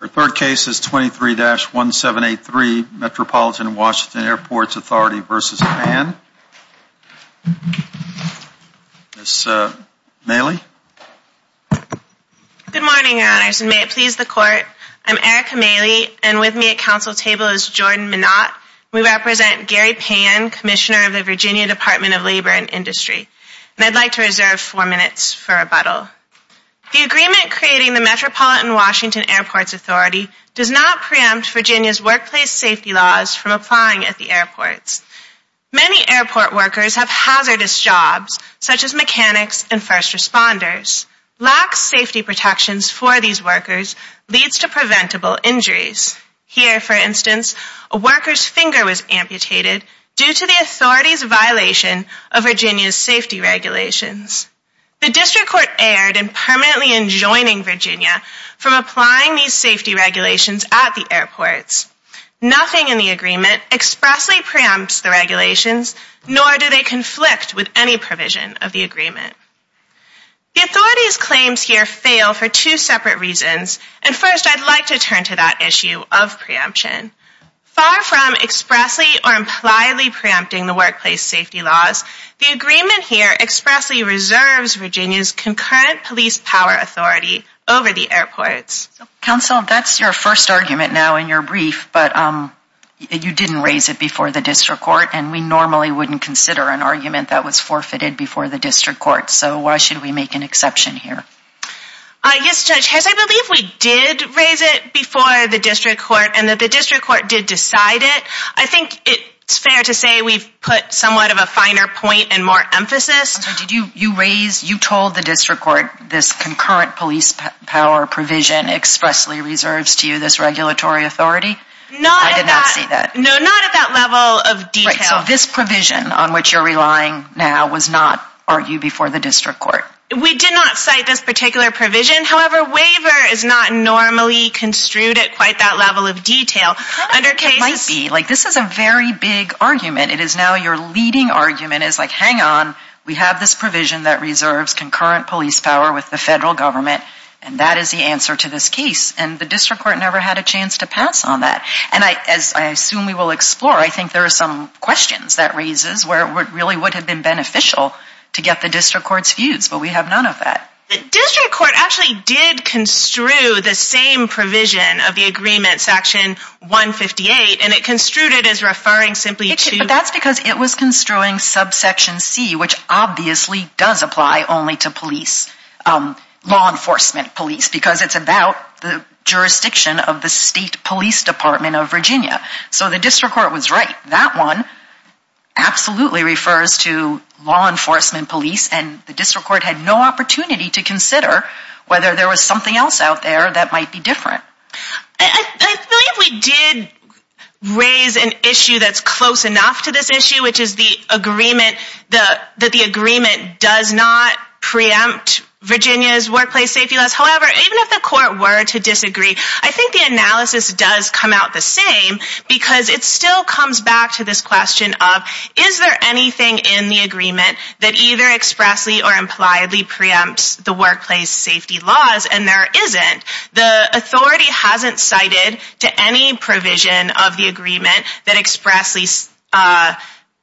Our third case is 23-1783 Metropolitan Washington Airports Authority v. Pan. Ms. Maley. Good morning, Your Honors, and may it please the Court. I'm Erica Maley, and with me at council table is Jordan Minot. We represent Gary Pan, Commissioner of the Virginia Department of Labor and Industry. And I'd like to reserve four minutes for rebuttal. The agreement creating the Metropolitan Washington Airports Authority does not preempt Virginia's workplace safety laws from applying at the airports. Many airport workers have hazardous jobs, such as mechanics and first responders. Lack of safety protections for these workers leads to preventable injuries. Here, for instance, a worker's finger was amputated due to the authority's violation of Virginia's safety regulations. The district court erred in permanently enjoining Virginia from applying these safety regulations at the airports. Nothing in the agreement expressly preempts the regulations, nor do they conflict with any provision of the agreement. The authority's claims here fail for two separate reasons, and first I'd like to turn to that issue of preemption. Far from expressly or impliedly preempting the workplace safety laws, the agreement here expressly reserves Virginia's concurrent police power authority over the airports. Counsel, that's your first argument now in your brief, but you didn't raise it before the district court, and we normally wouldn't consider an argument that was forfeited before the district court, so why should we make an exception here? Yes, Judge Harris, I believe we did raise it before the district court and that the district court did decide it. I think it's fair to say we've put somewhat of a finer point and more emphasis. You told the district court this concurrent police power provision expressly reserves to you this regulatory authority? Not at that level of detail. So this provision on which you're relying now was not argued before the district court? We did not cite this particular provision, however, waiver is not normally construed at quite that level of detail. It might be. This is a very big argument. It is now your leading argument is like, hang on, we have this provision that reserves concurrent police power with the federal government, and that is the answer to this case, and the district court never had a chance to pass on that. And as I assume we will explore, I think there are some questions that raises where it really would have been beneficial to get the district court's views, but we have none of that. The district court actually did construe the same provision of the agreement, section 158, and it construed it as referring simply to... That's because it was construing subsection C, which obviously does apply only to police, law enforcement police, because it's about the jurisdiction of the state police department of Virginia. So the district court was right. That one absolutely refers to law enforcement police, and the district court had no opportunity to consider whether there was something else out there that might be different. I believe we did raise an issue that's close enough to this issue, which is the agreement that the agreement does not preempt Virginia's workplace safety laws. However, even if the court were to disagree, I think the analysis does come out the same, because it still comes back to this question of, is there anything in the agreement that either expressly or impliedly preempts the workplace safety laws? And there isn't. The authority hasn't cited to any provision of the agreement that expressly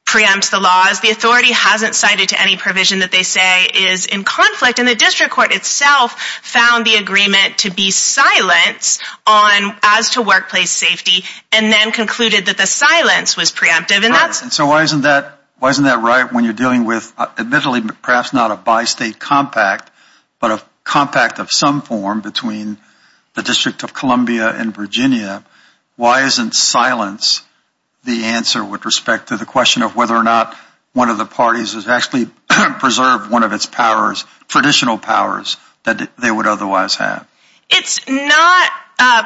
preempts the laws. The authority hasn't cited to any provision that they say is in conflict, and the district court itself found the agreement to be silence as to workplace safety, and then concluded that the silence was preemptive. So why isn't that right when you're dealing with, admittedly, perhaps not a bi-state compact, but a compact of some form between the District of Columbia and Virginia? Why isn't silence the answer with respect to the question of whether or not one of the parties has actually preserved one of its powers traditional powers that they would otherwise have? It's not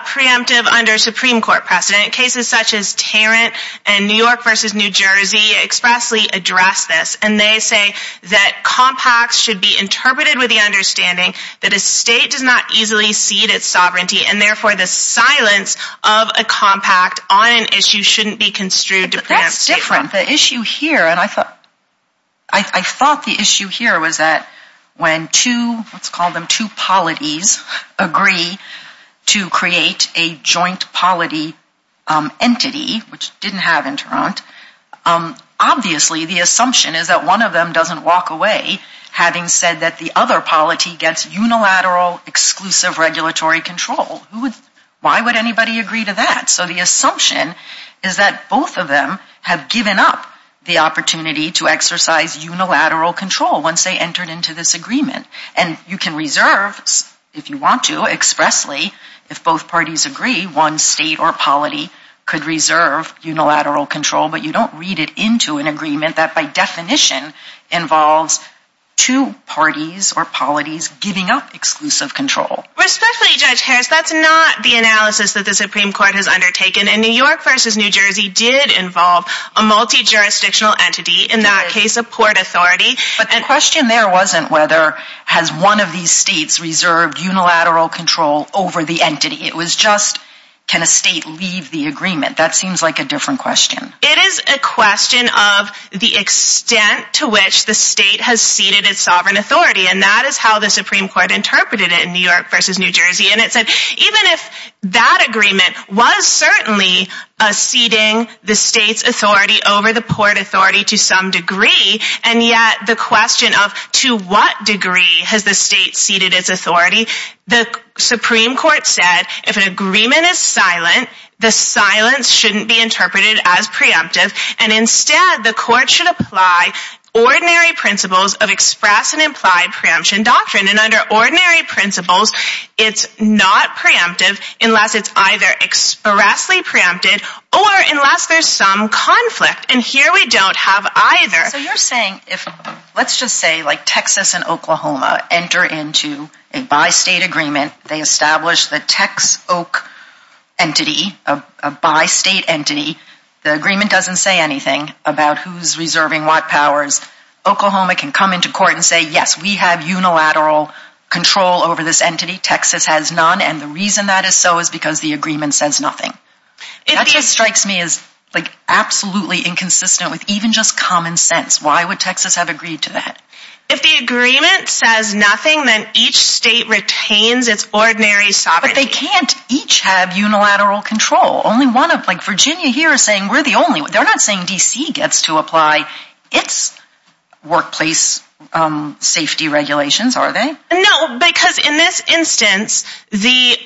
preemptive under Supreme Court precedent. Cases such as Tarrant and New York v. New Jersey expressly address this, and they say that compacts should be interpreted with the understanding that a state does not easily cede its sovereignty, and therefore the silence of a compact on an issue shouldn't be construed to preempt statehood. But that's different. The issue here, and I thought the issue here was that when two, let's call them two polities, agree to create a joint polity entity, which didn't have in Tarrant, obviously the assumption is that one of them doesn't walk away, having said that the other polity gets unilateral, exclusive regulatory control. Why would anybody agree to that? So the assumption is that both of them have given up the opportunity to exercise unilateral control once they entered into this agreement. And you can reserve, if you want to, expressly, if both parties agree, one state or polity could reserve unilateral control, but you don't read it into an agreement that by definition involves two parties or polities giving up exclusive control. Respectfully, Judge Harris, that's not the analysis that the Supreme Court has undertaken. And New York v. New Jersey did involve a multi-jurisdictional entity, in that case a port authority. But the question there wasn't whether has one of these states reserved unilateral control over the entity. It was just can a state leave the agreement. That seems like a different question. It is a question of the extent to which the state has ceded its sovereign authority, and that is how the Supreme Court interpreted it in New York v. New Jersey. And it said even if that agreement was certainly ceding the state's authority over the port authority to some degree, and yet the question of to what degree has the state ceded its authority, the Supreme Court said if an agreement is silent, the silence shouldn't be interpreted as preemptive, and instead the court should apply ordinary principles of express and implied preemption doctrine. And under ordinary principles, it's not preemptive unless it's either expressly preempted or unless there's some conflict. And here we don't have either. So you're saying if, let's just say like Texas and Oklahoma enter into a bi-state agreement, they establish the Tex-Oak entity, a bi-state entity, the agreement doesn't say anything about who's reserving what powers. Oklahoma can come into court and say, yes, we have unilateral control over this entity. Texas has none, and the reason that is so is because the agreement says nothing. That just strikes me as like absolutely inconsistent with even just common sense. Why would Texas have agreed to that? If the agreement says nothing, then each state retains its ordinary sovereignty. But they can't each have unilateral control. Only one of, like Virginia here is saying we're the only, they're not saying D.C. gets to apply its workplace safety regulations, are they? No, because in this instance, the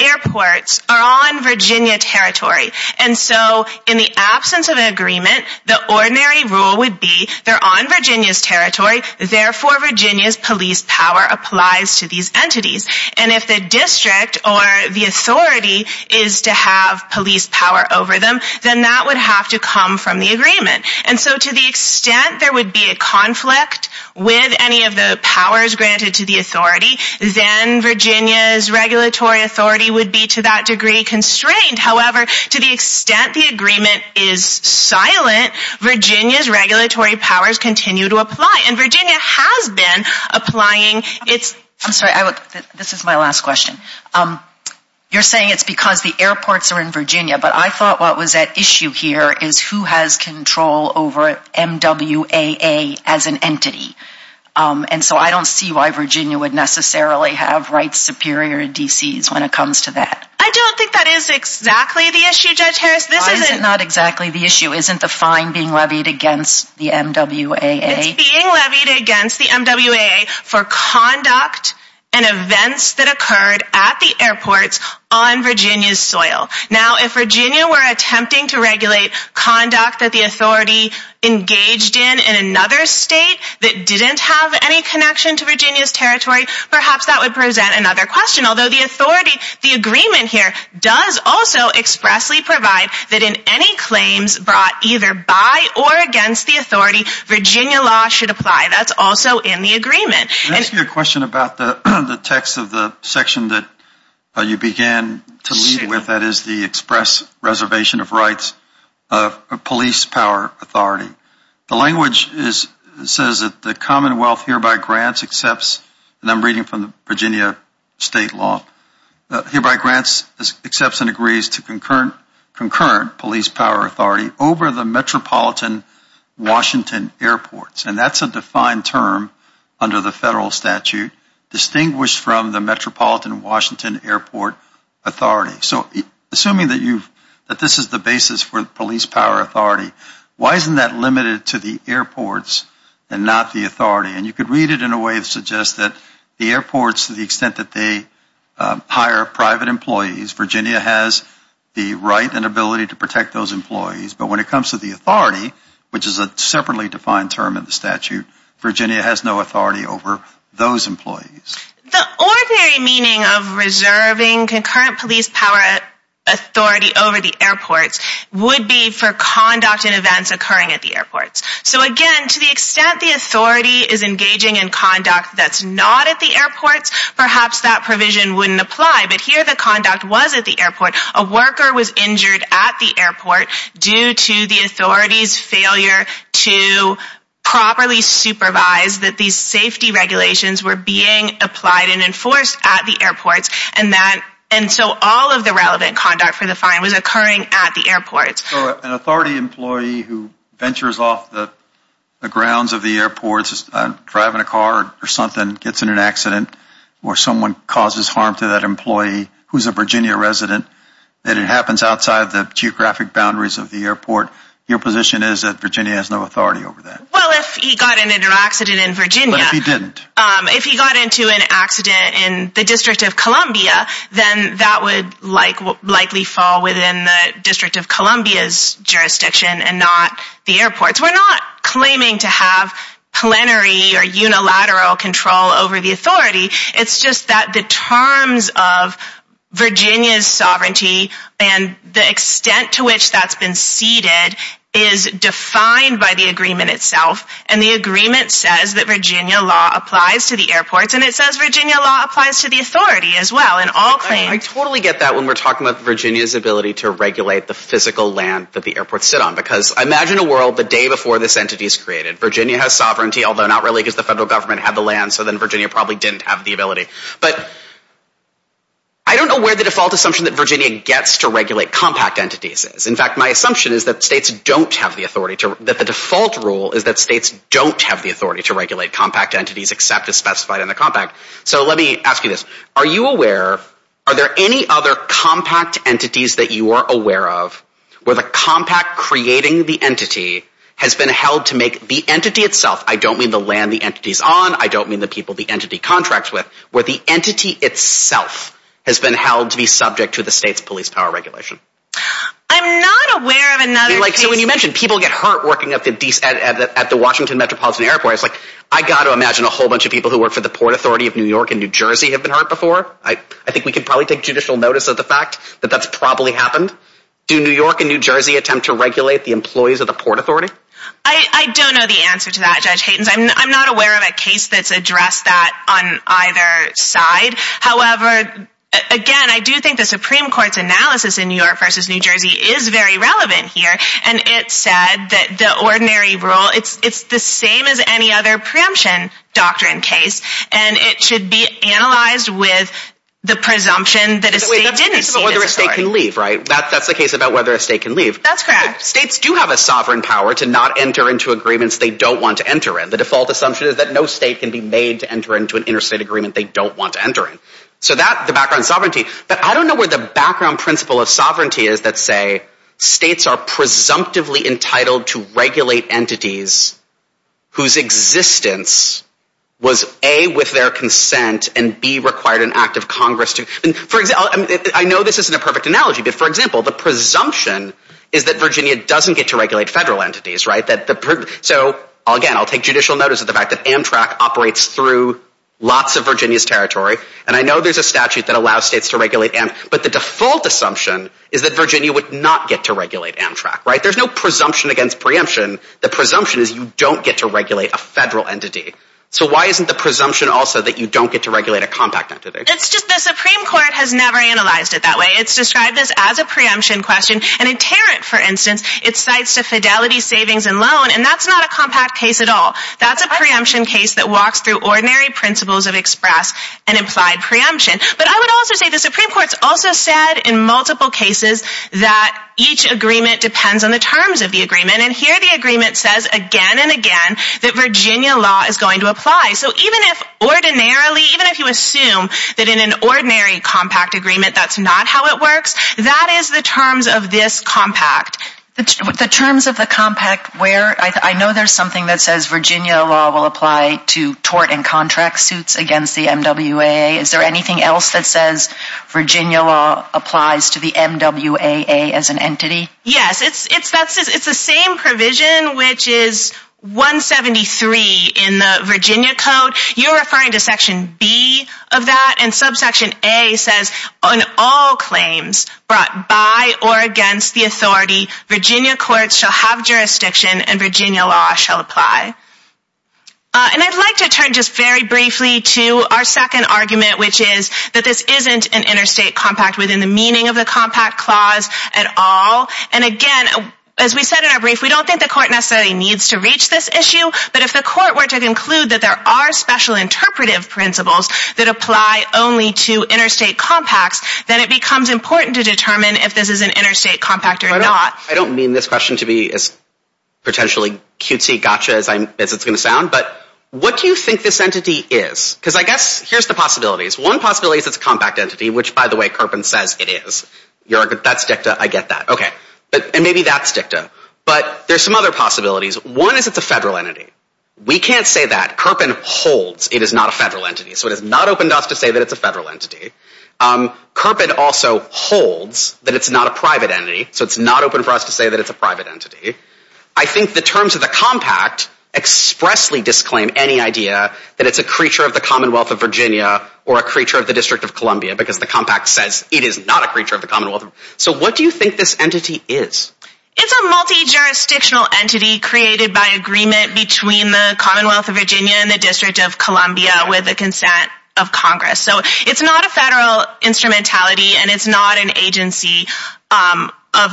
airports are on Virginia territory. And so in the absence of an agreement, the ordinary rule would be they're on Virginia's territory, therefore Virginia's police power applies to these entities. And if the district or the authority is to have police power over them, then that would have to come from the agreement. And so to the extent there would be a conflict with any of the powers granted to the authority, then Virginia's regulatory authority would be to that degree constrained. However, to the extent the agreement is silent, Virginia's regulatory powers continue to apply. And Virginia has been applying its... I'm sorry, this is my last question. You're saying it's because the airports are in Virginia, but I thought what was at issue here is who has control over MWAA as an entity. And so I don't see why Virginia would necessarily have rights superior to D.C.'s when it comes to that. I don't think that is exactly the issue, Judge Harris. Why is it not exactly the issue? Isn't the fine being levied against the MWAA? It's being levied against the MWAA for conduct and events that occurred at the airports on Virginia's soil. Now, if Virginia were attempting to regulate conduct that the authority engaged in in another state that didn't have any connection to Virginia's territory, perhaps that would present another question. Although the authority, the agreement here does also expressly provide that in any claims brought either by or against the authority, Virginia law should apply. That's also in the agreement. Can I ask you a question about the text of the section that you began to lead with? Sure. That is the express reservation of rights of police power authority. The language says that the Commonwealth hereby grants, and I'm reading from the Virginia state law, hereby grants, accepts and agrees to concurrent police power authority over the Metropolitan Washington Airports. And that's a defined term under the federal statute distinguished from the Metropolitan Washington Airport Authority. So assuming that this is the basis for police power authority, why isn't that limited to the airports and not the authority? And you could read it in a way that suggests that the airports, to the extent that they hire private employees, Virginia has the right and ability to protect those employees. But when it comes to the authority, which is a separately defined term in the statute, Virginia has no authority over those employees. The ordinary meaning of reserving concurrent police power authority over the airports would be for conduct and events occurring at the airports. So again, to the extent the authority is engaging in conduct that's not at the airports, perhaps that provision wouldn't apply. But here the conduct was at the airport. A worker was injured at the airport due to the authority's failure to properly supervise that these safety regulations were being applied and enforced at the airports. And so all of the relevant conduct for the fine was occurring at the airports. So an authority employee who ventures off the grounds of the airports, driving a car or something, gets in an accident, or someone causes harm to that employee who's a Virginia resident, that it happens outside the geographic boundaries of the airport, your position is that Virginia has no authority over that? Well, if he got into an accident in Virginia. But if he didn't? If he got into an accident in the District of Columbia, then that would likely fall within the District of Columbia's jurisdiction and not the airports. We're not claiming to have plenary or unilateral control over the authority. It's just that the terms of Virginia's sovereignty and the extent to which that's been ceded is defined by the agreement itself. And the agreement says that Virginia law applies to the airports and it says Virginia law applies to the authority as well in all claims. I totally get that when we're talking about Virginia's ability to regulate the physical land that the airports sit on. Because imagine a world the day before this entity is created. Virginia has sovereignty, although not really because the federal government had the land, so then Virginia probably didn't have the ability. But I don't know where the default assumption that Virginia gets to regulate compact entities is. In fact, my assumption is that states don't have the authority, that the default rule is that states don't have the authority to regulate compact entities except as specified in the compact. So let me ask you this. Are you aware, are there any other compact entities that you are aware of where the compact creating the entity has been held to make the entity itself, I don't mean the land the entity's on, I don't mean the people the entity contracts with, where the entity itself has been held to be subject to the state's police power regulation? I'm not aware of another case. So when you mention people get hurt working at the Washington Metropolitan Airport, I've got to imagine a whole bunch of people who work for the Port Authority of New York and New Jersey have been hurt before. I think we can probably take judicial notice of the fact that that's probably happened. Do New York and New Jersey attempt to regulate the employees of the Port Authority? I don't know the answer to that, Judge Haytens. I'm not aware of a case that's addressed that on either side. However, again, I do think the Supreme Court's analysis in New York versus New Jersey is very relevant here, and it said that the ordinary rule, it's the same as any other preemption doctrine case, and it should be analyzed with the presumption that a state didn't see this authority. That's the case about whether a state can leave, right? That's the case about whether a state can leave. That's correct. States do have a sovereign power to not enter into agreements they don't want to enter in. The default assumption is that no state can be made to enter into an interstate agreement they don't want to enter in. So that's the background sovereignty. But I don't know where the background principle of sovereignty is that, say, states are presumptively entitled to regulate entities whose existence was A, with their consent, and B, required an act of Congress. I know this isn't a perfect analogy, but, for example, the presumption is that Virginia doesn't get to regulate federal entities, right? So, again, I'll take judicial notice of the fact that Amtrak operates through lots of Virginia's territory, and I know there's a statute that allows states to regulate Amtrak, but the default assumption is that Virginia would not get to regulate Amtrak, right? There's no presumption against preemption. The presumption is you don't get to regulate a federal entity. So why isn't the presumption also that you don't get to regulate a compact entity? It's just the Supreme Court has never analyzed it that way. It's described as a preemption question, and in Tarrant, for instance, it cites the fidelity, savings, and loan, and that's not a compact case at all. That's a preemption case that walks through ordinary principles of express and implied preemption. But I would also say the Supreme Court's also said in multiple cases that each agreement depends on the terms of the agreement, and here the agreement says again and again that Virginia law is going to apply. So even if ordinarily, even if you assume that in an ordinary compact agreement that's not how it works, that is the terms of this compact. The terms of the compact where? I know there's something that says Virginia law will apply to tort and contract suits against the MWA. Is there anything else that says Virginia law applies to the MWAA as an entity? Yes, it's the same provision, which is 173 in the Virginia Code. You're referring to section B of that, and subsection A says on all claims brought by or against the authority, Virginia courts shall have jurisdiction and Virginia law shall apply. And I'd like to turn just very briefly to our second argument, which is that this isn't an interstate compact within the meaning of the compact clause at all. And again, as we said in our brief, we don't think the court necessarily needs to reach this issue, but if the court were to conclude that there are special interpretive principles that apply only to interstate compacts, then it becomes important to determine if this is an interstate compact or not. I don't mean this question to be as potentially cutesy gotcha as it's going to sound, but what do you think this entity is? Because I guess here's the possibilities. One possibility is it's a compact entity, which, by the way, Kirpin says it is. That's dicta. I get that. Okay. And maybe that's dicta. But there's some other possibilities. One is it's a federal entity. We can't say that. Kirpin holds it is not a federal entity, so it has not opened us to say that it's a federal entity. Kirpin also holds that it's not a private entity, so it's not open for us to say that it's a private entity. I think the terms of the compact expressly disclaim any idea that it's a creature of the Commonwealth of Virginia or a creature of the District of Columbia because the compact says it is not a creature of the Commonwealth. So what do you think this entity is? It's a multi-jurisdictional entity created by agreement between the Commonwealth of Virginia and the District of Columbia with the consent of Congress. So it's not a federal instrumentality, and it's not an agency of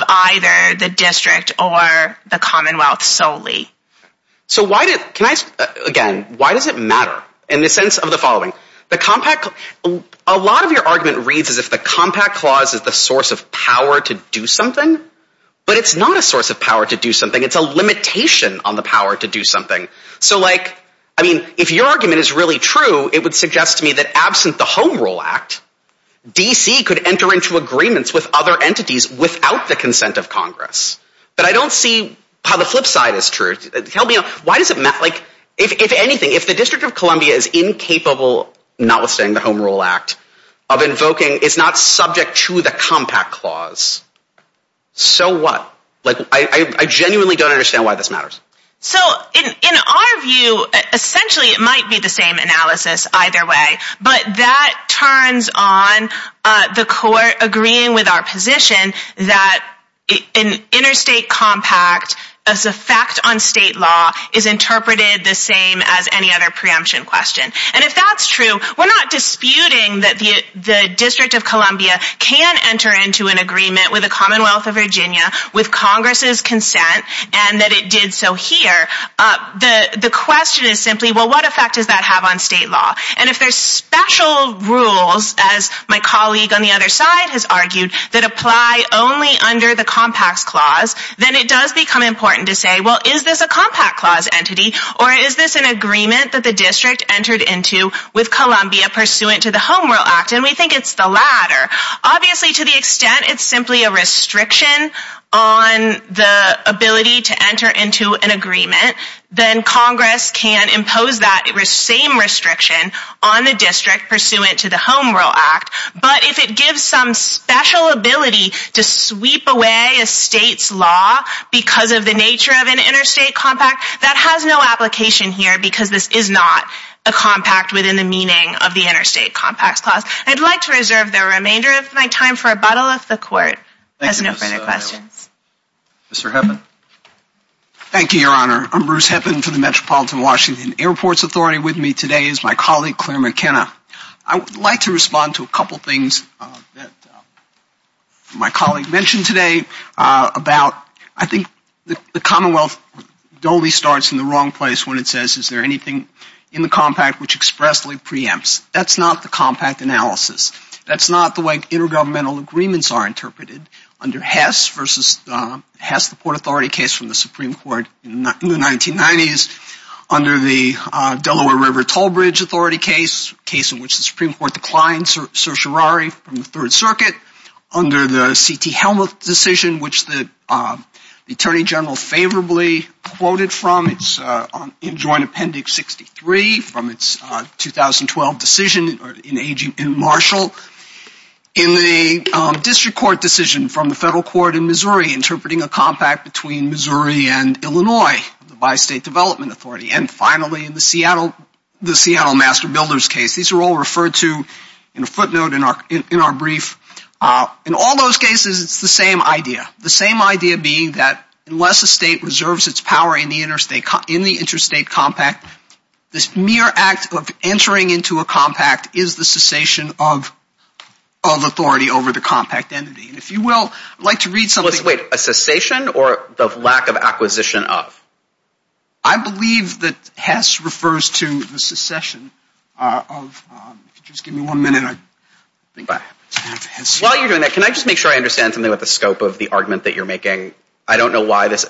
either the District or the Commonwealth solely. So why did—can I—again, why does it matter in the sense of the following? The compact—a lot of your argument reads as if the compact clause is the source of power to do something, but it's not a source of power to do something. It's a limitation on the power to do something. So, like, I mean, if your argument is really true, it would suggest to me that absent the Home Rule Act, D.C. could enter into agreements with other entities without the consent of Congress. But I don't see how the flip side is true. Tell me—why does it matter? Like, if anything, if the District of Columbia is incapable, notwithstanding the Home Rule Act, of invoking—it's not subject to the compact clause, so what? Like, I genuinely don't understand why this matters. So, in our view, essentially it might be the same analysis either way, but that turns on the court agreeing with our position that an interstate compact, as a fact on state law, is interpreted the same as any other preemption question. And if that's true, we're not disputing that the District of Columbia can enter into an agreement with the Commonwealth of Virginia, with Congress' consent, and that it did so here. The question is simply, well, what effect does that have on state law? And if there's special rules, as my colleague on the other side has argued, that apply only under the compact clause, then it does become important to say, well, is this a compact clause entity, or is this an agreement that the District entered into with Columbia pursuant to the Home Rule Act? And we think it's the latter. Obviously, to the extent it's simply a restriction on the ability to enter into an agreement, then Congress can impose that same restriction on the District pursuant to the Home Rule Act. But if it gives some special ability to sweep away a state's law because of the nature of an interstate compact, that has no application here, because this is not a compact within the meaning of the interstate compacts clause. I'd like to reserve the remainder of my time for a bottle if the Court has no further questions. Mr. Heppin. Thank you, Your Honor. I'm Bruce Heppin for the Metropolitan Washington Airports Authority. With me today is my colleague Claire McKenna. I would like to respond to a couple of things that my colleague mentioned today about, I think the Commonwealth only starts in the wrong place when it says, is there anything in the compact which expressly preempts? That's not the compact analysis. That's not the way intergovernmental agreements are interpreted under Hess v. Hess, the Port Authority case from the Supreme Court in the 1990s, under the Delaware River Toll Bridge Authority case, a case in which the Supreme Court declined certiorari from the Third Circuit, under the C.T. Helmuth decision, which the Attorney General favorably quoted from. It's in Joint Appendix 63 from its 2012 decision in Marshall. In the District Court decision from the Federal Court in Missouri, interpreting a compact between Missouri and Illinois, the Bi-State Development Authority. And finally, in the Seattle Master Builders case. These are all referred to in a footnote in our brief. In all those cases, it's the same idea. The same idea being that unless a state reserves its power in the interstate compact, this mere act of entering into a compact is the cessation of authority over the compact entity. And if you will, I'd like to read something. Wait, a cessation or the lack of acquisition of? I believe that Hess refers to the cessation of. Just give me one minute. While you're doing that, can I just make sure I understand something about the scope of the argument that you're making? I don't know why this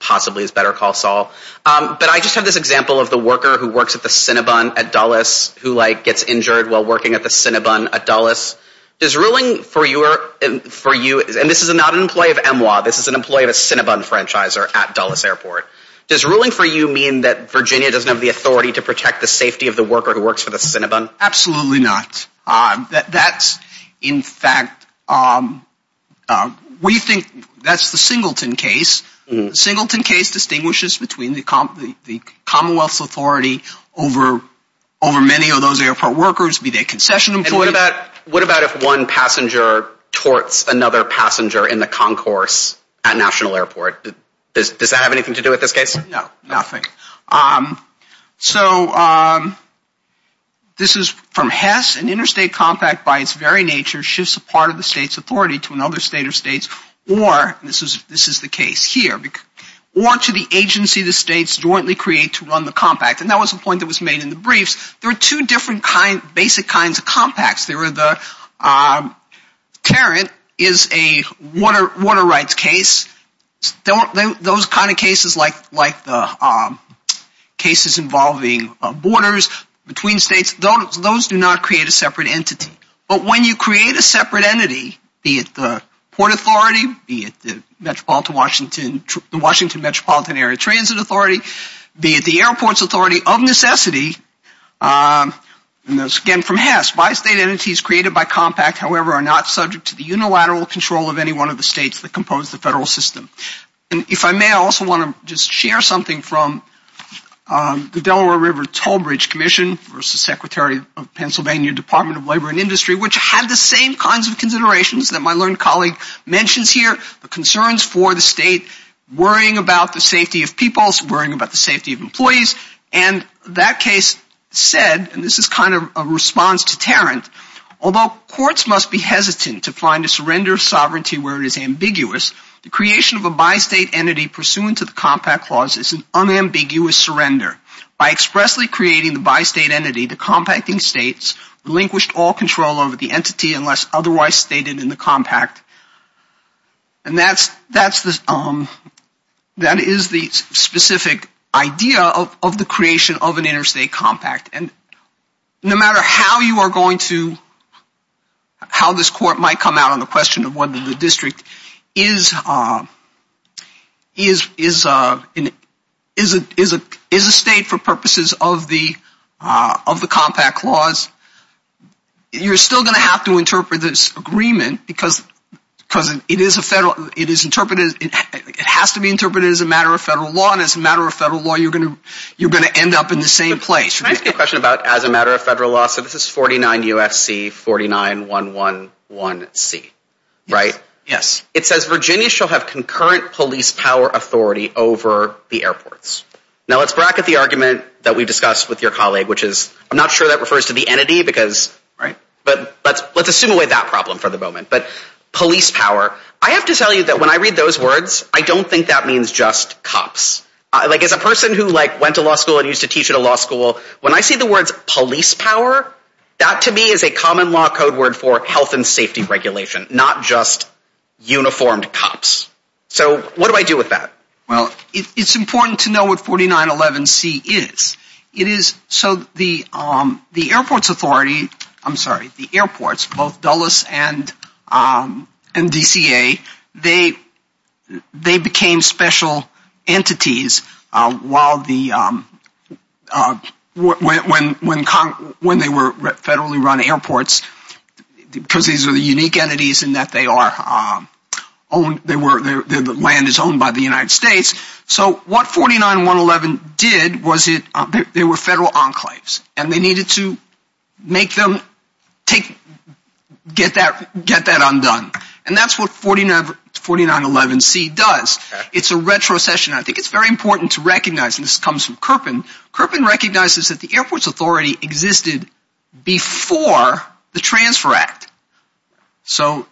possibly is better call Saul. But I just have this example of the worker who works at the Cinnabon at Dulles, who like gets injured while working at the Cinnabon at Dulles. Does ruling for you, and this is not an employee of EMWA, this is an employee of a Cinnabon franchisor at Dulles Airport. Does ruling for you mean that Virginia doesn't have the authority to protect the safety of the worker who works for the Cinnabon? Absolutely not. That's, in fact, we think that's the Singleton case. The Singleton case distinguishes between the Commonwealth's authority over many of those airport workers, be they concession employees. And what about if one passenger torts another passenger in the concourse at National Airport? Does that have anything to do with this case? No, nothing. So this is from Hess. An interstate compact by its very nature shifts a part of the state's authority to another state or states, or this is the case here, or to the agency the states jointly create to run the compact. And that was a point that was made in the briefs. There are two different basic kinds of compacts. There are the Tarrant is a water rights case. Those kind of cases like the cases involving borders between states, those do not create a separate entity. But when you create a separate entity, be it the Port Authority, be it the Washington Metropolitan Area Transit Authority, be it the Airports Authority of necessity, and that's again from Hess, by state entities created by compact, however, are not subject to the unilateral control of any one of the states that compose the federal system. And if I may, I also want to just share something from the Delaware River Toll Bridge Commission versus Secretary of Pennsylvania Department of Labor and Industry, which had the same kinds of considerations that my learned colleague mentions here, the concerns for the state worrying about the safety of people, worrying about the safety of employees. And that case said, and this is kind of a response to Tarrant, although courts must be hesitant to find a surrender of sovereignty where it is ambiguous, the creation of a by-state entity pursuant to the compact clause is an unambiguous surrender. By expressly creating the by-state entity, the compacting states relinquished all control over the entity unless otherwise stated in the compact. And that is the specific idea of the creation of an interstate compact. And no matter how you are going to, how this court might come out on the question of whether the district is a state for purposes of the compact clause, you are still going to have to interpret this agreement because it is a federal, it is interpreted, it has to be interpreted as a matter of federal law and as a matter of federal law you are going to end up in the same place. Can I ask you a question about as a matter of federal law? So this is 49 U.S.C. 49111C, right? Yes. It says Virginia shall have concurrent police power authority over the airports. Now let's bracket the argument that we discussed with your colleague which is, I'm not sure that refers to the entity because, but let's assume away that problem for the moment. But police power, I have to tell you that when I read those words, I don't think that means just cops. Like as a person who like went to law school and used to teach at a law school, when I see the words police power, that to me is a common law code word for health and safety regulation, not just uniformed cops. So what do I do with that? Well, it's important to know what 4911C is. It is, so the airports authority, I'm sorry, the airports, both Dulles and DCA, they became special entities while the, when they were federally run airports, because these are the unique entities in that they are owned, the land is owned by the United States. So what 49111C did was it, they were federal enclaves, and they needed to make them take, get that undone. And that's what 49111C does. It's a retrocession. I think it's very important to recognize, and this comes from Kirpin. Kirpin recognizes that the airports authority existed before the Transfer Act. So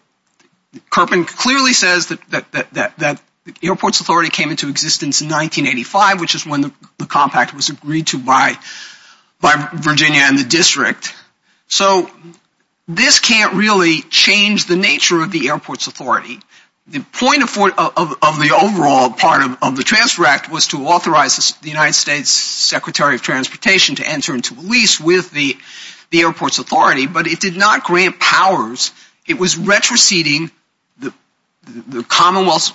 Kirpin clearly says that the airports authority came into existence in 1985, which is when the compact was agreed to by Virginia and the district. So this can't really change the nature of the airports authority. The point of the overall part of the Transfer Act was to authorize the United States Secretary of Transportation to enter into a lease with the airports authority, but it did not grant powers. It was retroceding the Commonwealth's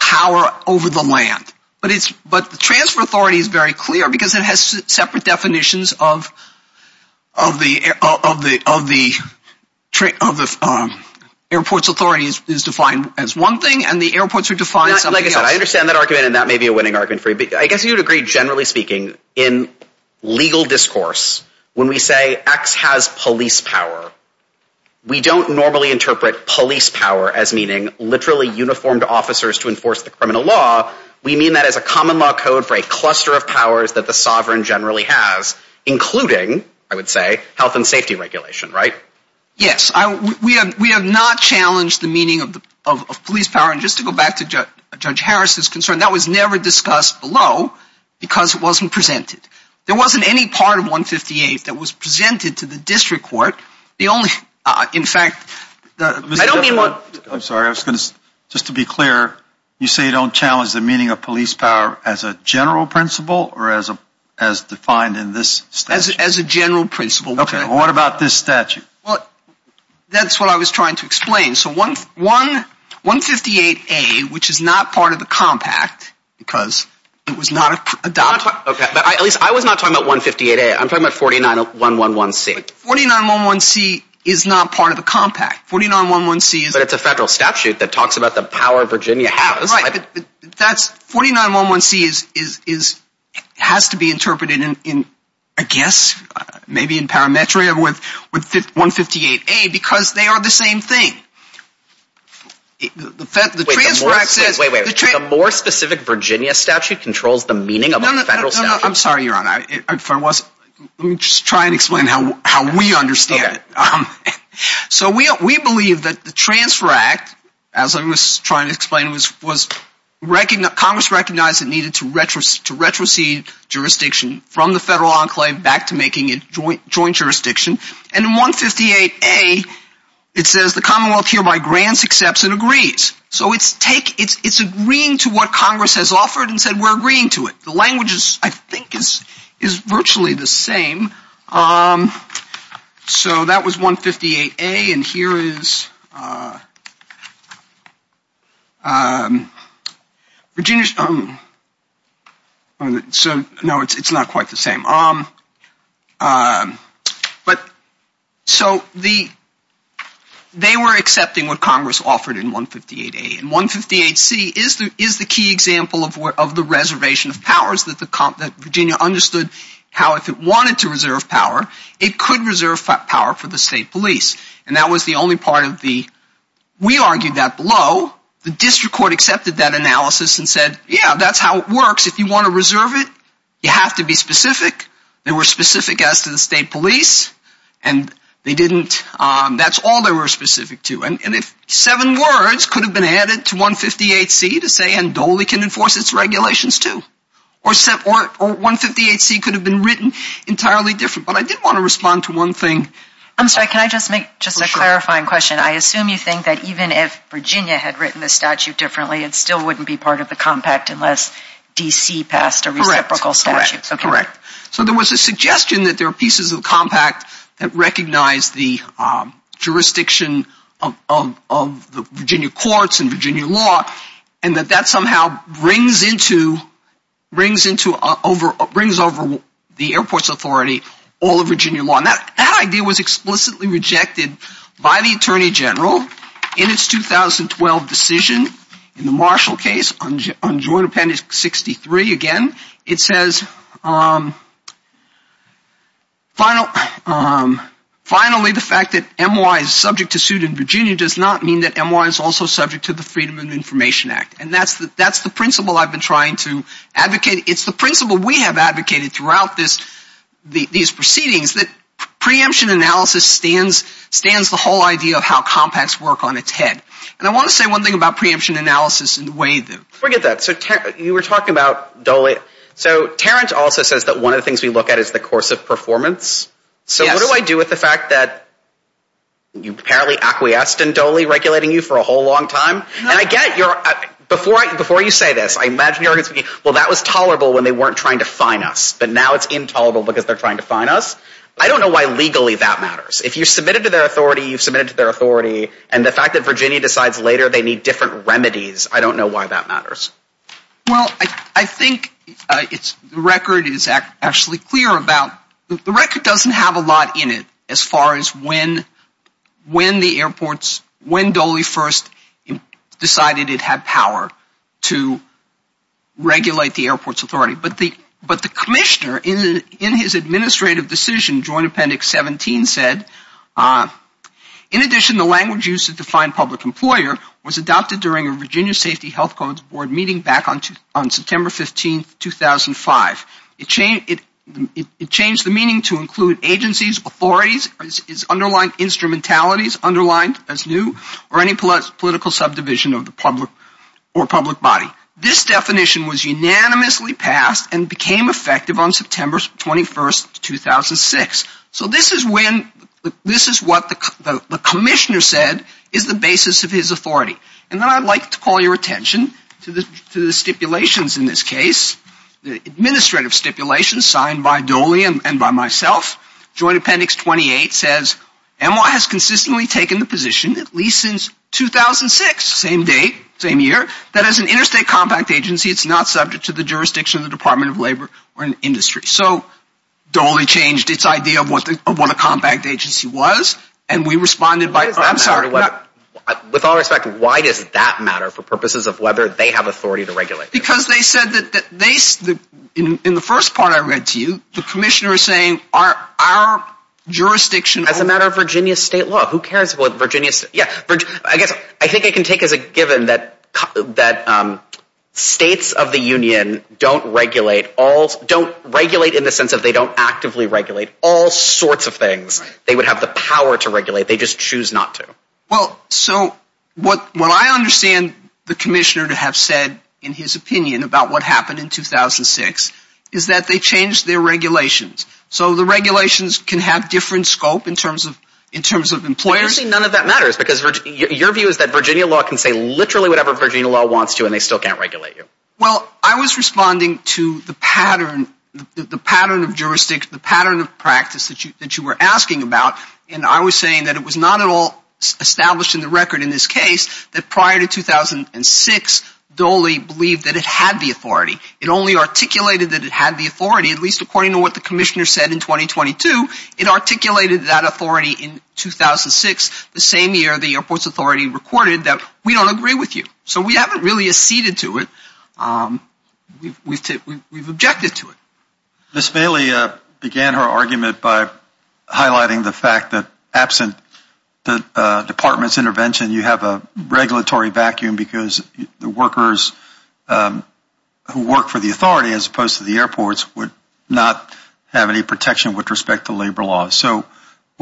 power over the land. But the transfer authority is very clear because it has separate definitions of the airports authority is defined as one thing, and the airports are defined as something else. Like I said, I understand that argument, and that may be a winning argument for you, but I guess you'd agree, generally speaking, in legal discourse, when we say X has police power, we don't normally interpret police power as meaning literally uniformed officers to enforce the criminal law. We mean that as a common law code for a cluster of powers that the sovereign generally has, including, I would say, health and safety regulation, right? Yes. We have not challenged the meaning of police power. And just to go back to Judge Harris's concern, that was never discussed below because it wasn't presented. There wasn't any part of 158 that was presented to the district court. I'm sorry. Just to be clear, you say you don't challenge the meaning of police power as a general principle or as defined in this statute? As a general principle. Okay. What about this statute? That's what I was trying to explain. So 158A, which is not part of the compact because it was not adopted. At least I was not talking about 158A. I'm talking about 49111C. 49111C is not part of the compact. 49111C is... But it's a federal statute that talks about the power Virginia has. Right. 49111C has to be interpreted in, I guess, maybe in parametria with 158A because they are the same thing. Wait, the more specific Virginia statute controls the meaning of a federal statute? I'm sorry, Your Honor. Let me just try and explain how we understand it. So we believe that the Transfer Act, as I was trying to explain, Congress recognized it needed to retrocede jurisdiction from the federal enclave back to making it joint jurisdiction. And in 158A, it says the Commonwealth hereby grants, accepts, and agrees. So it's agreeing to what Congress has offered and said we're agreeing to it. The language, I think, is virtually the same. So that was 158A and here is Virginia's... So, no, it's not quite the same. But so they were accepting what Congress offered in 158A. And 158C is the key example of the reservation of powers that Virginia understood how, if it wanted to reserve power, it could reserve power for the state police. And that was the only part of the... We argued that below. The district court accepted that analysis and said, yeah, that's how it works. If you want to reserve it, you have to be specific. They were specific as to the state police. And they didn't... That's all they were specific to. And if seven words could have been added to 158C to say NDOLI can enforce its regulations too. Or 158C could have been written entirely different. But I did want to respond to one thing. I'm sorry, can I just make just a clarifying question? I assume you think that even if Virginia had written the statute differently, it still wouldn't be part of the compact unless DC passed a reciprocal statute. Correct. So there was a suggestion that there are pieces of the compact that recognize the jurisdiction of the Virginia courts and Virginia law and that that somehow brings into...brings into...brings over the airports authority all of Virginia law. And that idea was explicitly rejected by the Attorney General in its 2012 decision in the Marshall case on Joint Appendix 63. Again, it says finally the fact that MY is subject to suit in Virginia does not mean that MY is also subject to the Freedom of Information Act. And that's the principle I've been trying to advocate. It's the principle we have advocated throughout these proceedings that preemption analysis stands the whole idea of how compacts work on its head. And I want to say one thing about preemption analysis and the way that... So Terrence also says that one of the things we look at is the course of performance. So what do I do with the fact that you apparently acquiesced in Doley regulating you for a whole long time? And I get your...before you say this, I imagine you're going to say, well, that was tolerable when they weren't trying to fine us, but now it's intolerable because they're trying to fine us. I don't know why legally that matters. If you submitted to their authority, you've submitted to their authority, and the fact that Virginia decides later they need different remedies, I don't know why that matters. Well, I think the record is actually clear about...the record doesn't have a lot in it as far as when the airports... when Doley first decided it had power to regulate the airport's authority. But the commissioner in his administrative decision, Joint Appendix 17, said, In addition, the language used to define public employer was adopted during a Virginia Safety Health Codes Board meeting back on September 15, 2005. It changed the meaning to include agencies, authorities, its underlying instrumentalities, underlined as new, or any political subdivision of the public or public body. This definition was unanimously passed and became effective on September 21, 2006. So this is when...this is what the commissioner said is the basis of his authority. And then I'd like to call your attention to the stipulations in this case, the administrative stipulations signed by Doley and by myself. Joint Appendix 28 says, NY has consistently taken the position, at least since 2006, same date, same year, that as an interstate compact agency, it's not subject to the jurisdiction of the Department of Labor or an industry. So Doley changed its idea of what a compact agency was, and we responded by... With all respect, why does that matter for purposes of whether they have authority to regulate? Because they said that...in the first part I read to you, the commissioner is saying our jurisdiction... As a matter of Virginia state law, who cares what Virginia... I think I can take as a given that states of the union don't regulate all... don't regulate in the sense that they don't actively regulate all sorts of things. They would have the power to regulate, they just choose not to. Well, so what I understand the commissioner to have said in his opinion about what happened in 2006 is that they changed their regulations. So the regulations can have different scope in terms of employers... Your view is that Virginia law can say literally whatever Virginia law wants to and they still can't regulate you. Well, I was responding to the pattern of jurisdiction, the pattern of practice that you were asking about, and I was saying that it was not at all established in the record in this case that prior to 2006, Doley believed that it had the authority. It only articulated that it had the authority, at least according to what the commissioner said in 2022, it articulated that authority in 2006, the same year the airport's authority recorded that we don't agree with you. So we haven't really acceded to it, we've objected to it. Ms. Bailey began her argument by highlighting the fact that absent the department's intervention, you have a regulatory vacuum because the workers who work for the authority as opposed to the airports would not have any protection with respect to labor laws. So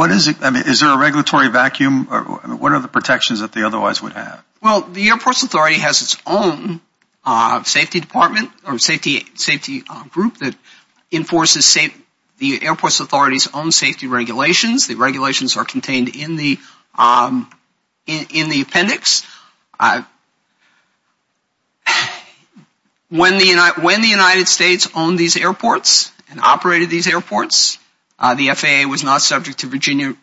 is there a regulatory vacuum? What are the protections that they otherwise would have? Well, the airport's authority has its own safety department or safety group that enforces the airport's authority's own safety regulations. The regulations are contained in the appendix. When the United States owned these airports and operated these airports, the FAA was not subject to Virginia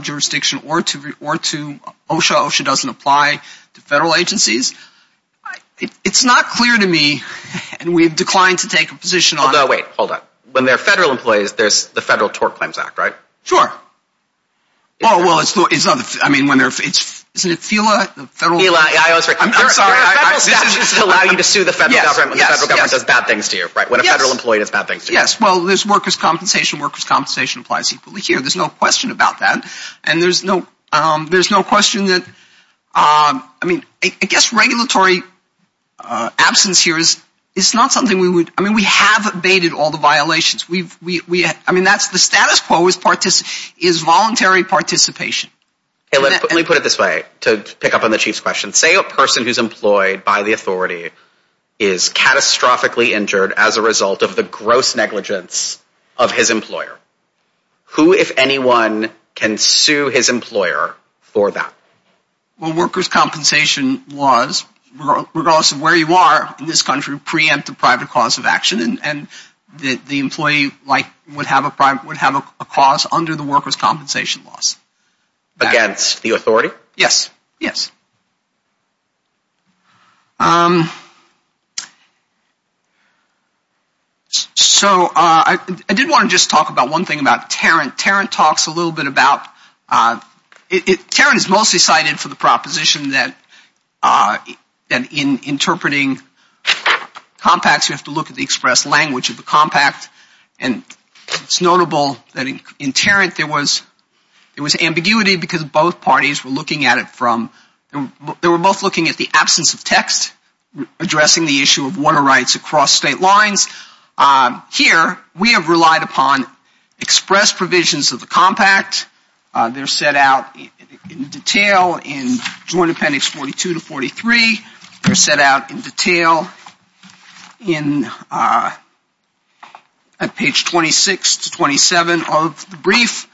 jurisdiction or to OSHA. OSHA doesn't apply to federal agencies. It's not clear to me, and we've declined to take a position on it. Hold on, wait, hold on. When there are federal employees, there's the Federal Tort Claims Act, right? Sure. Oh, well, isn't it FILA? FILA, yeah, I was right. I'm sorry. Federal statutes allow you to sue the federal government when the federal government does bad things to you, right, when a federal employee does bad things to you. Yes, well, there's workers' compensation. Workers' compensation applies equally here. There's no question about that. And there's no question that, I mean, I guess regulatory absence here is not something we would, I mean, we have abated all the violations. I mean, that's the status quo is voluntary participation. Let me put it this way to pick up on the Chief's question. Say a person who's employed by the authority is catastrophically injured as a result of the gross negligence of his employer. Who, if anyone, can sue his employer for that? Well, workers' compensation laws, regardless of where you are in this country, would preempt a private cause of action, and the employee would have a cause under the workers' compensation laws. Against the authority? Yes, yes. So I did want to just talk about one thing about Tarrant. Tarrant talks a little bit about, Tarrant is mostly cited for the proposition that in interpreting compacts, you have to look at the express language of the compact. And it's notable that in Tarrant there was ambiguity because both parties were looking at it from, they were both looking at the absence of text addressing the issue of water rights across state lines. Here, we have relied upon express provisions of the compact. They're set out in detail in Joint Appendix 42 to 43. They're set out in detail in page 26 to 27 of the brief.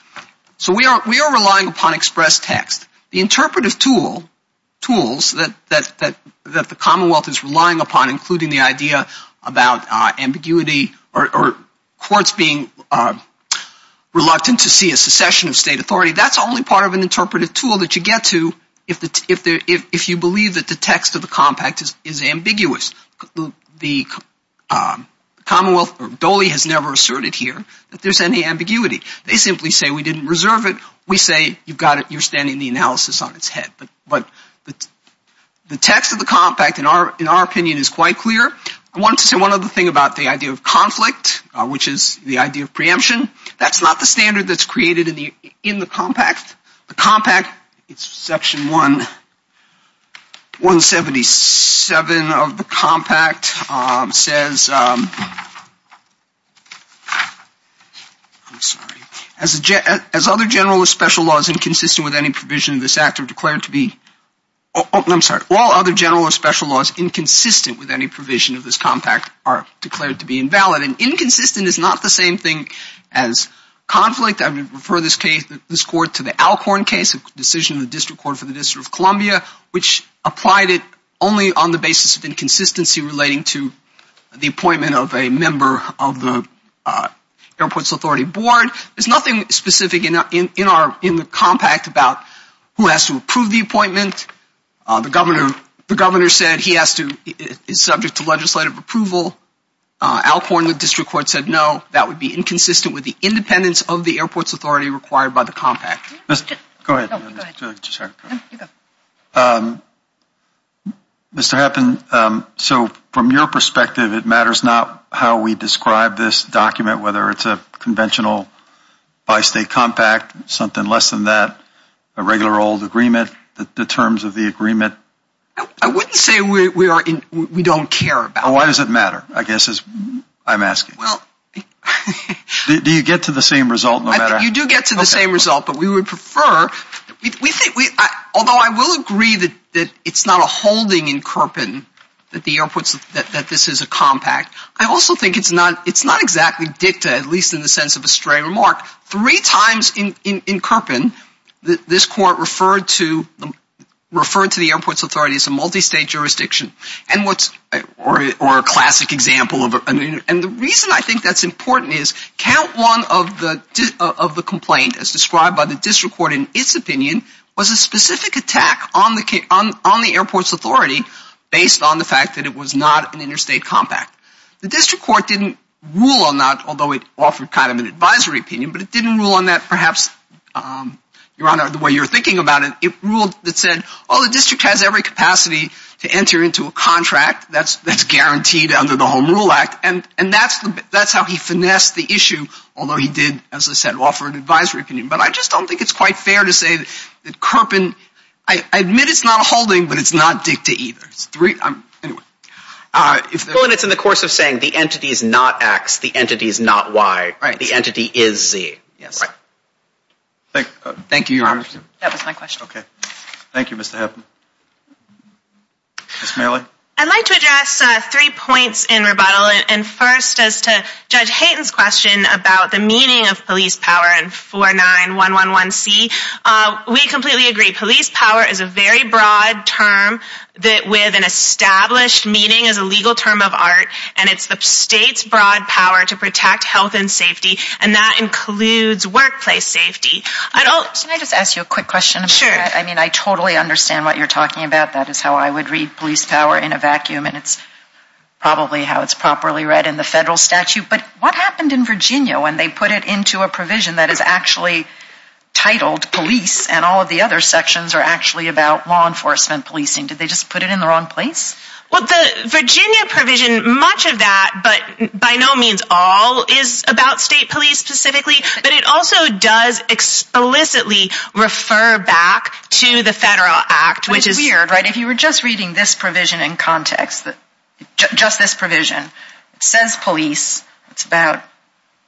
So we are relying upon express text. The interpretive tools that the Commonwealth is relying upon, including the idea about ambiguity or courts being reluctant to see a secession of state authority, that's only part of an interpretive tool that you get to if you believe that the text of the compact is ambiguous. The Commonwealth, or Dole has never asserted here that there's any ambiguity. They simply say we didn't reserve it. We say you've got it, you're standing the analysis on its head. But the text of the compact, in our opinion, is quite clear. I wanted to say one other thing about the idea of conflict, which is the idea of preemption. That's not the standard that's created in the compact. The compact, it's Section 177 of the compact, says, I'm sorry, as other general or special laws inconsistent with any provision of this act are declared to be, I'm sorry, all other general or special laws inconsistent with any provision of this compact are declared to be invalid. And inconsistent is not the same thing as conflict. I would refer this case, this court, to the Alcorn case, a decision of the District Court for the District of Columbia, which applied it only on the basis of inconsistency relating to the appointment of a member of the Airports Authority board. There's nothing specific in the compact about who has to approve the appointment. The governor said he has to, is subject to legislative approval. Alcorn, the District Court said no, that would be inconsistent with the independence of the Airports Authority required by the compact. Go ahead. Mr. Happen, so from your perspective, it matters not how we describe this document, whether it's a conventional bi-state compact, something less than that, a regular old agreement, the terms of the agreement? I wouldn't say we don't care about it. Well, why does it matter, I guess is what I'm asking. Do you get to the same result? You do get to the same result, but we would prefer, although I will agree that it's not a holding in Kirpin that this is a compact, I also think it's not exactly dicta, at least in the sense of a stray remark. Three times in Kirpin, this court referred to the Airports Authority as a multi-state jurisdiction. And what's, or a classic example, and the reason I think that's important is, count one of the complaint as described by the District Court in its opinion, was a specific attack on the Airports Authority based on the fact that it was not an interstate compact. The District Court didn't rule on that, although it offered kind of an advisory opinion, but it didn't rule on that perhaps, Your Honor, the way you're thinking about it. It ruled that said, oh, the district has every capacity to enter into a contract that's guaranteed under the Home Rule Act, and that's how he finessed the issue, although he did, as I said, offer an advisory opinion. But I just don't think it's quite fair to say that Kirpin, I admit it's not a holding, but it's not dicta either. Anyway. Well, and it's in the course of saying the entity is not X, the entity is not Y. Right. The entity is Z. Right. Thank you, Your Honor. That was my question. Okay. Thank you, Mr. Hepburn. Ms. Marley. I'd like to address three points in rebuttal. And first, as to Judge Hayton's question about the meaning of police power and 49111C, we completely agree. Police power is a very broad term with an established meaning as a legal term of art, and it's the state's broad power to protect health and safety, and that includes workplace safety. Can I just ask you a quick question about that? Sure. I mean, I totally understand what you're talking about. That is how I would read police power in a vacuum, and it's probably how it's properly read in the federal statute. But what happened in Virginia when they put it into a provision that is actually titled police and all of the other sections are actually about law enforcement policing? Did they just put it in the wrong place? Well, the Virginia provision, much of that, but by no means all, is about state police specifically. But it also does explicitly refer back to the federal act, which is weird, right? If you were just reading this provision in context, just this provision, it says police. It's about,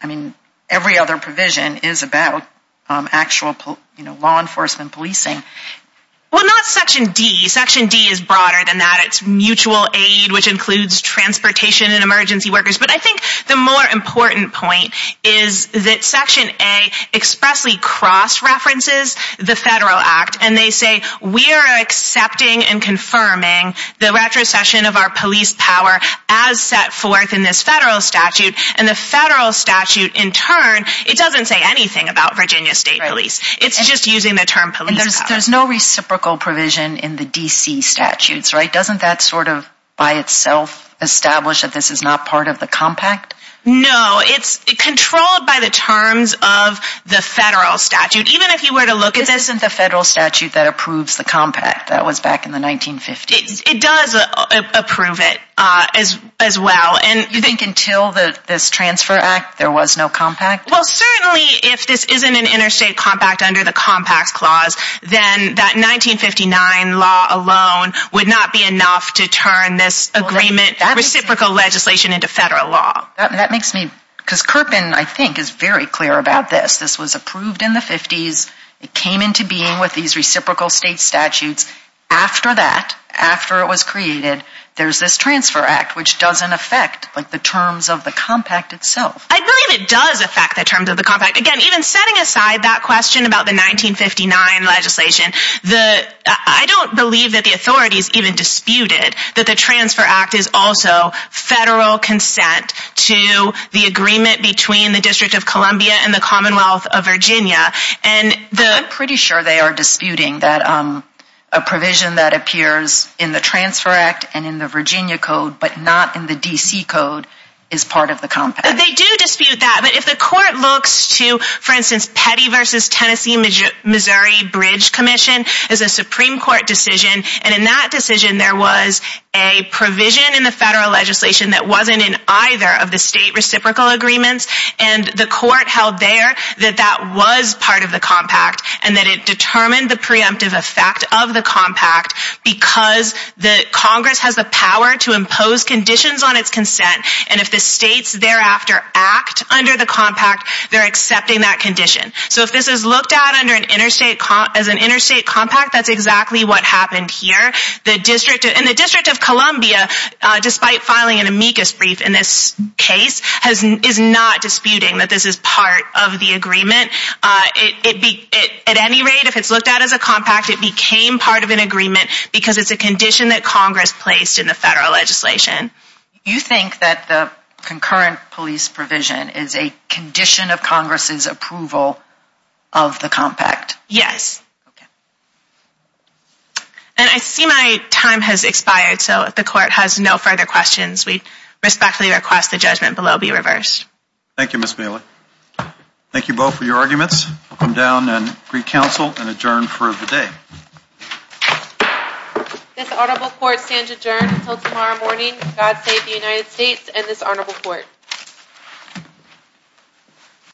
I mean, every other provision is about actual law enforcement policing. Well, not Section D. Section D is broader than that. It's mutual aid, which includes transportation and emergency workers. But I think the more important point is that Section A expressly cross-references the federal act, and they say we are accepting and confirming the retrocession of our police power as set forth in this federal statute. And the federal statute, in turn, it doesn't say anything about Virginia state police. It's just using the term police power. There's no reciprocal provision in the D.C. statutes, right? Doesn't that sort of, by itself, establish that this is not part of the compact? No, it's controlled by the terms of the federal statute. Even if you were to look at this... This isn't the federal statute that approves the compact. That was back in the 1950s. It does approve it as well. And you think until this transfer act, there was no compact? Well, certainly, if this isn't an interstate compact under the compacts clause, then that 1959 law alone would not be enough to turn this agreement, reciprocal legislation, into federal law. That makes me... Because Kirpin, I think, is very clear about this. This was approved in the 50s. It came into being with these reciprocal state statutes. After that, after it was created, there's this transfer act, which doesn't affect the terms of the compact itself. I believe it does affect the terms of the compact. Again, even setting aside that question about the 1959 legislation, I don't believe that the authorities even disputed that the transfer act is also federal consent to the agreement between the District of Columbia and the Commonwealth of Virginia. I'm pretty sure they are disputing that a provision that appears in the transfer act and in the Virginia Code, but not in the D.C. Code, is part of the compact. They do dispute that, but if the court looks to, for instance, Petty v. Tennessee-Missouri Bridge Commission as a Supreme Court decision, and in that decision, there was a provision in the federal legislation that wasn't in either of the state reciprocal agreements, and the court held there that that was part of the compact, and that it determined the preemptive effect of the compact because Congress has the power to impose conditions on its consent, and if the states thereafter act under the compact, they're accepting that condition. So if this is looked at as an interstate compact, that's exactly what happened here. The District of Columbia, despite filing an amicus brief in this case, is not disputing that this is part of the agreement. At any rate, if it's looked at as a compact, it became part of an agreement because it's a condition that Congress placed in the federal legislation. You think that the concurrent police provision is a condition of Congress' approval of the compact? Yes. And I see my time has expired, so if the court has no further questions, we respectfully request the judgment below be reversed. Thank you, Ms. Bailey. Thank you both for your arguments. I'll come down and greet counsel and adjourn for the day. This honorable court stands adjourned until tomorrow morning. God save the United States and this honorable court.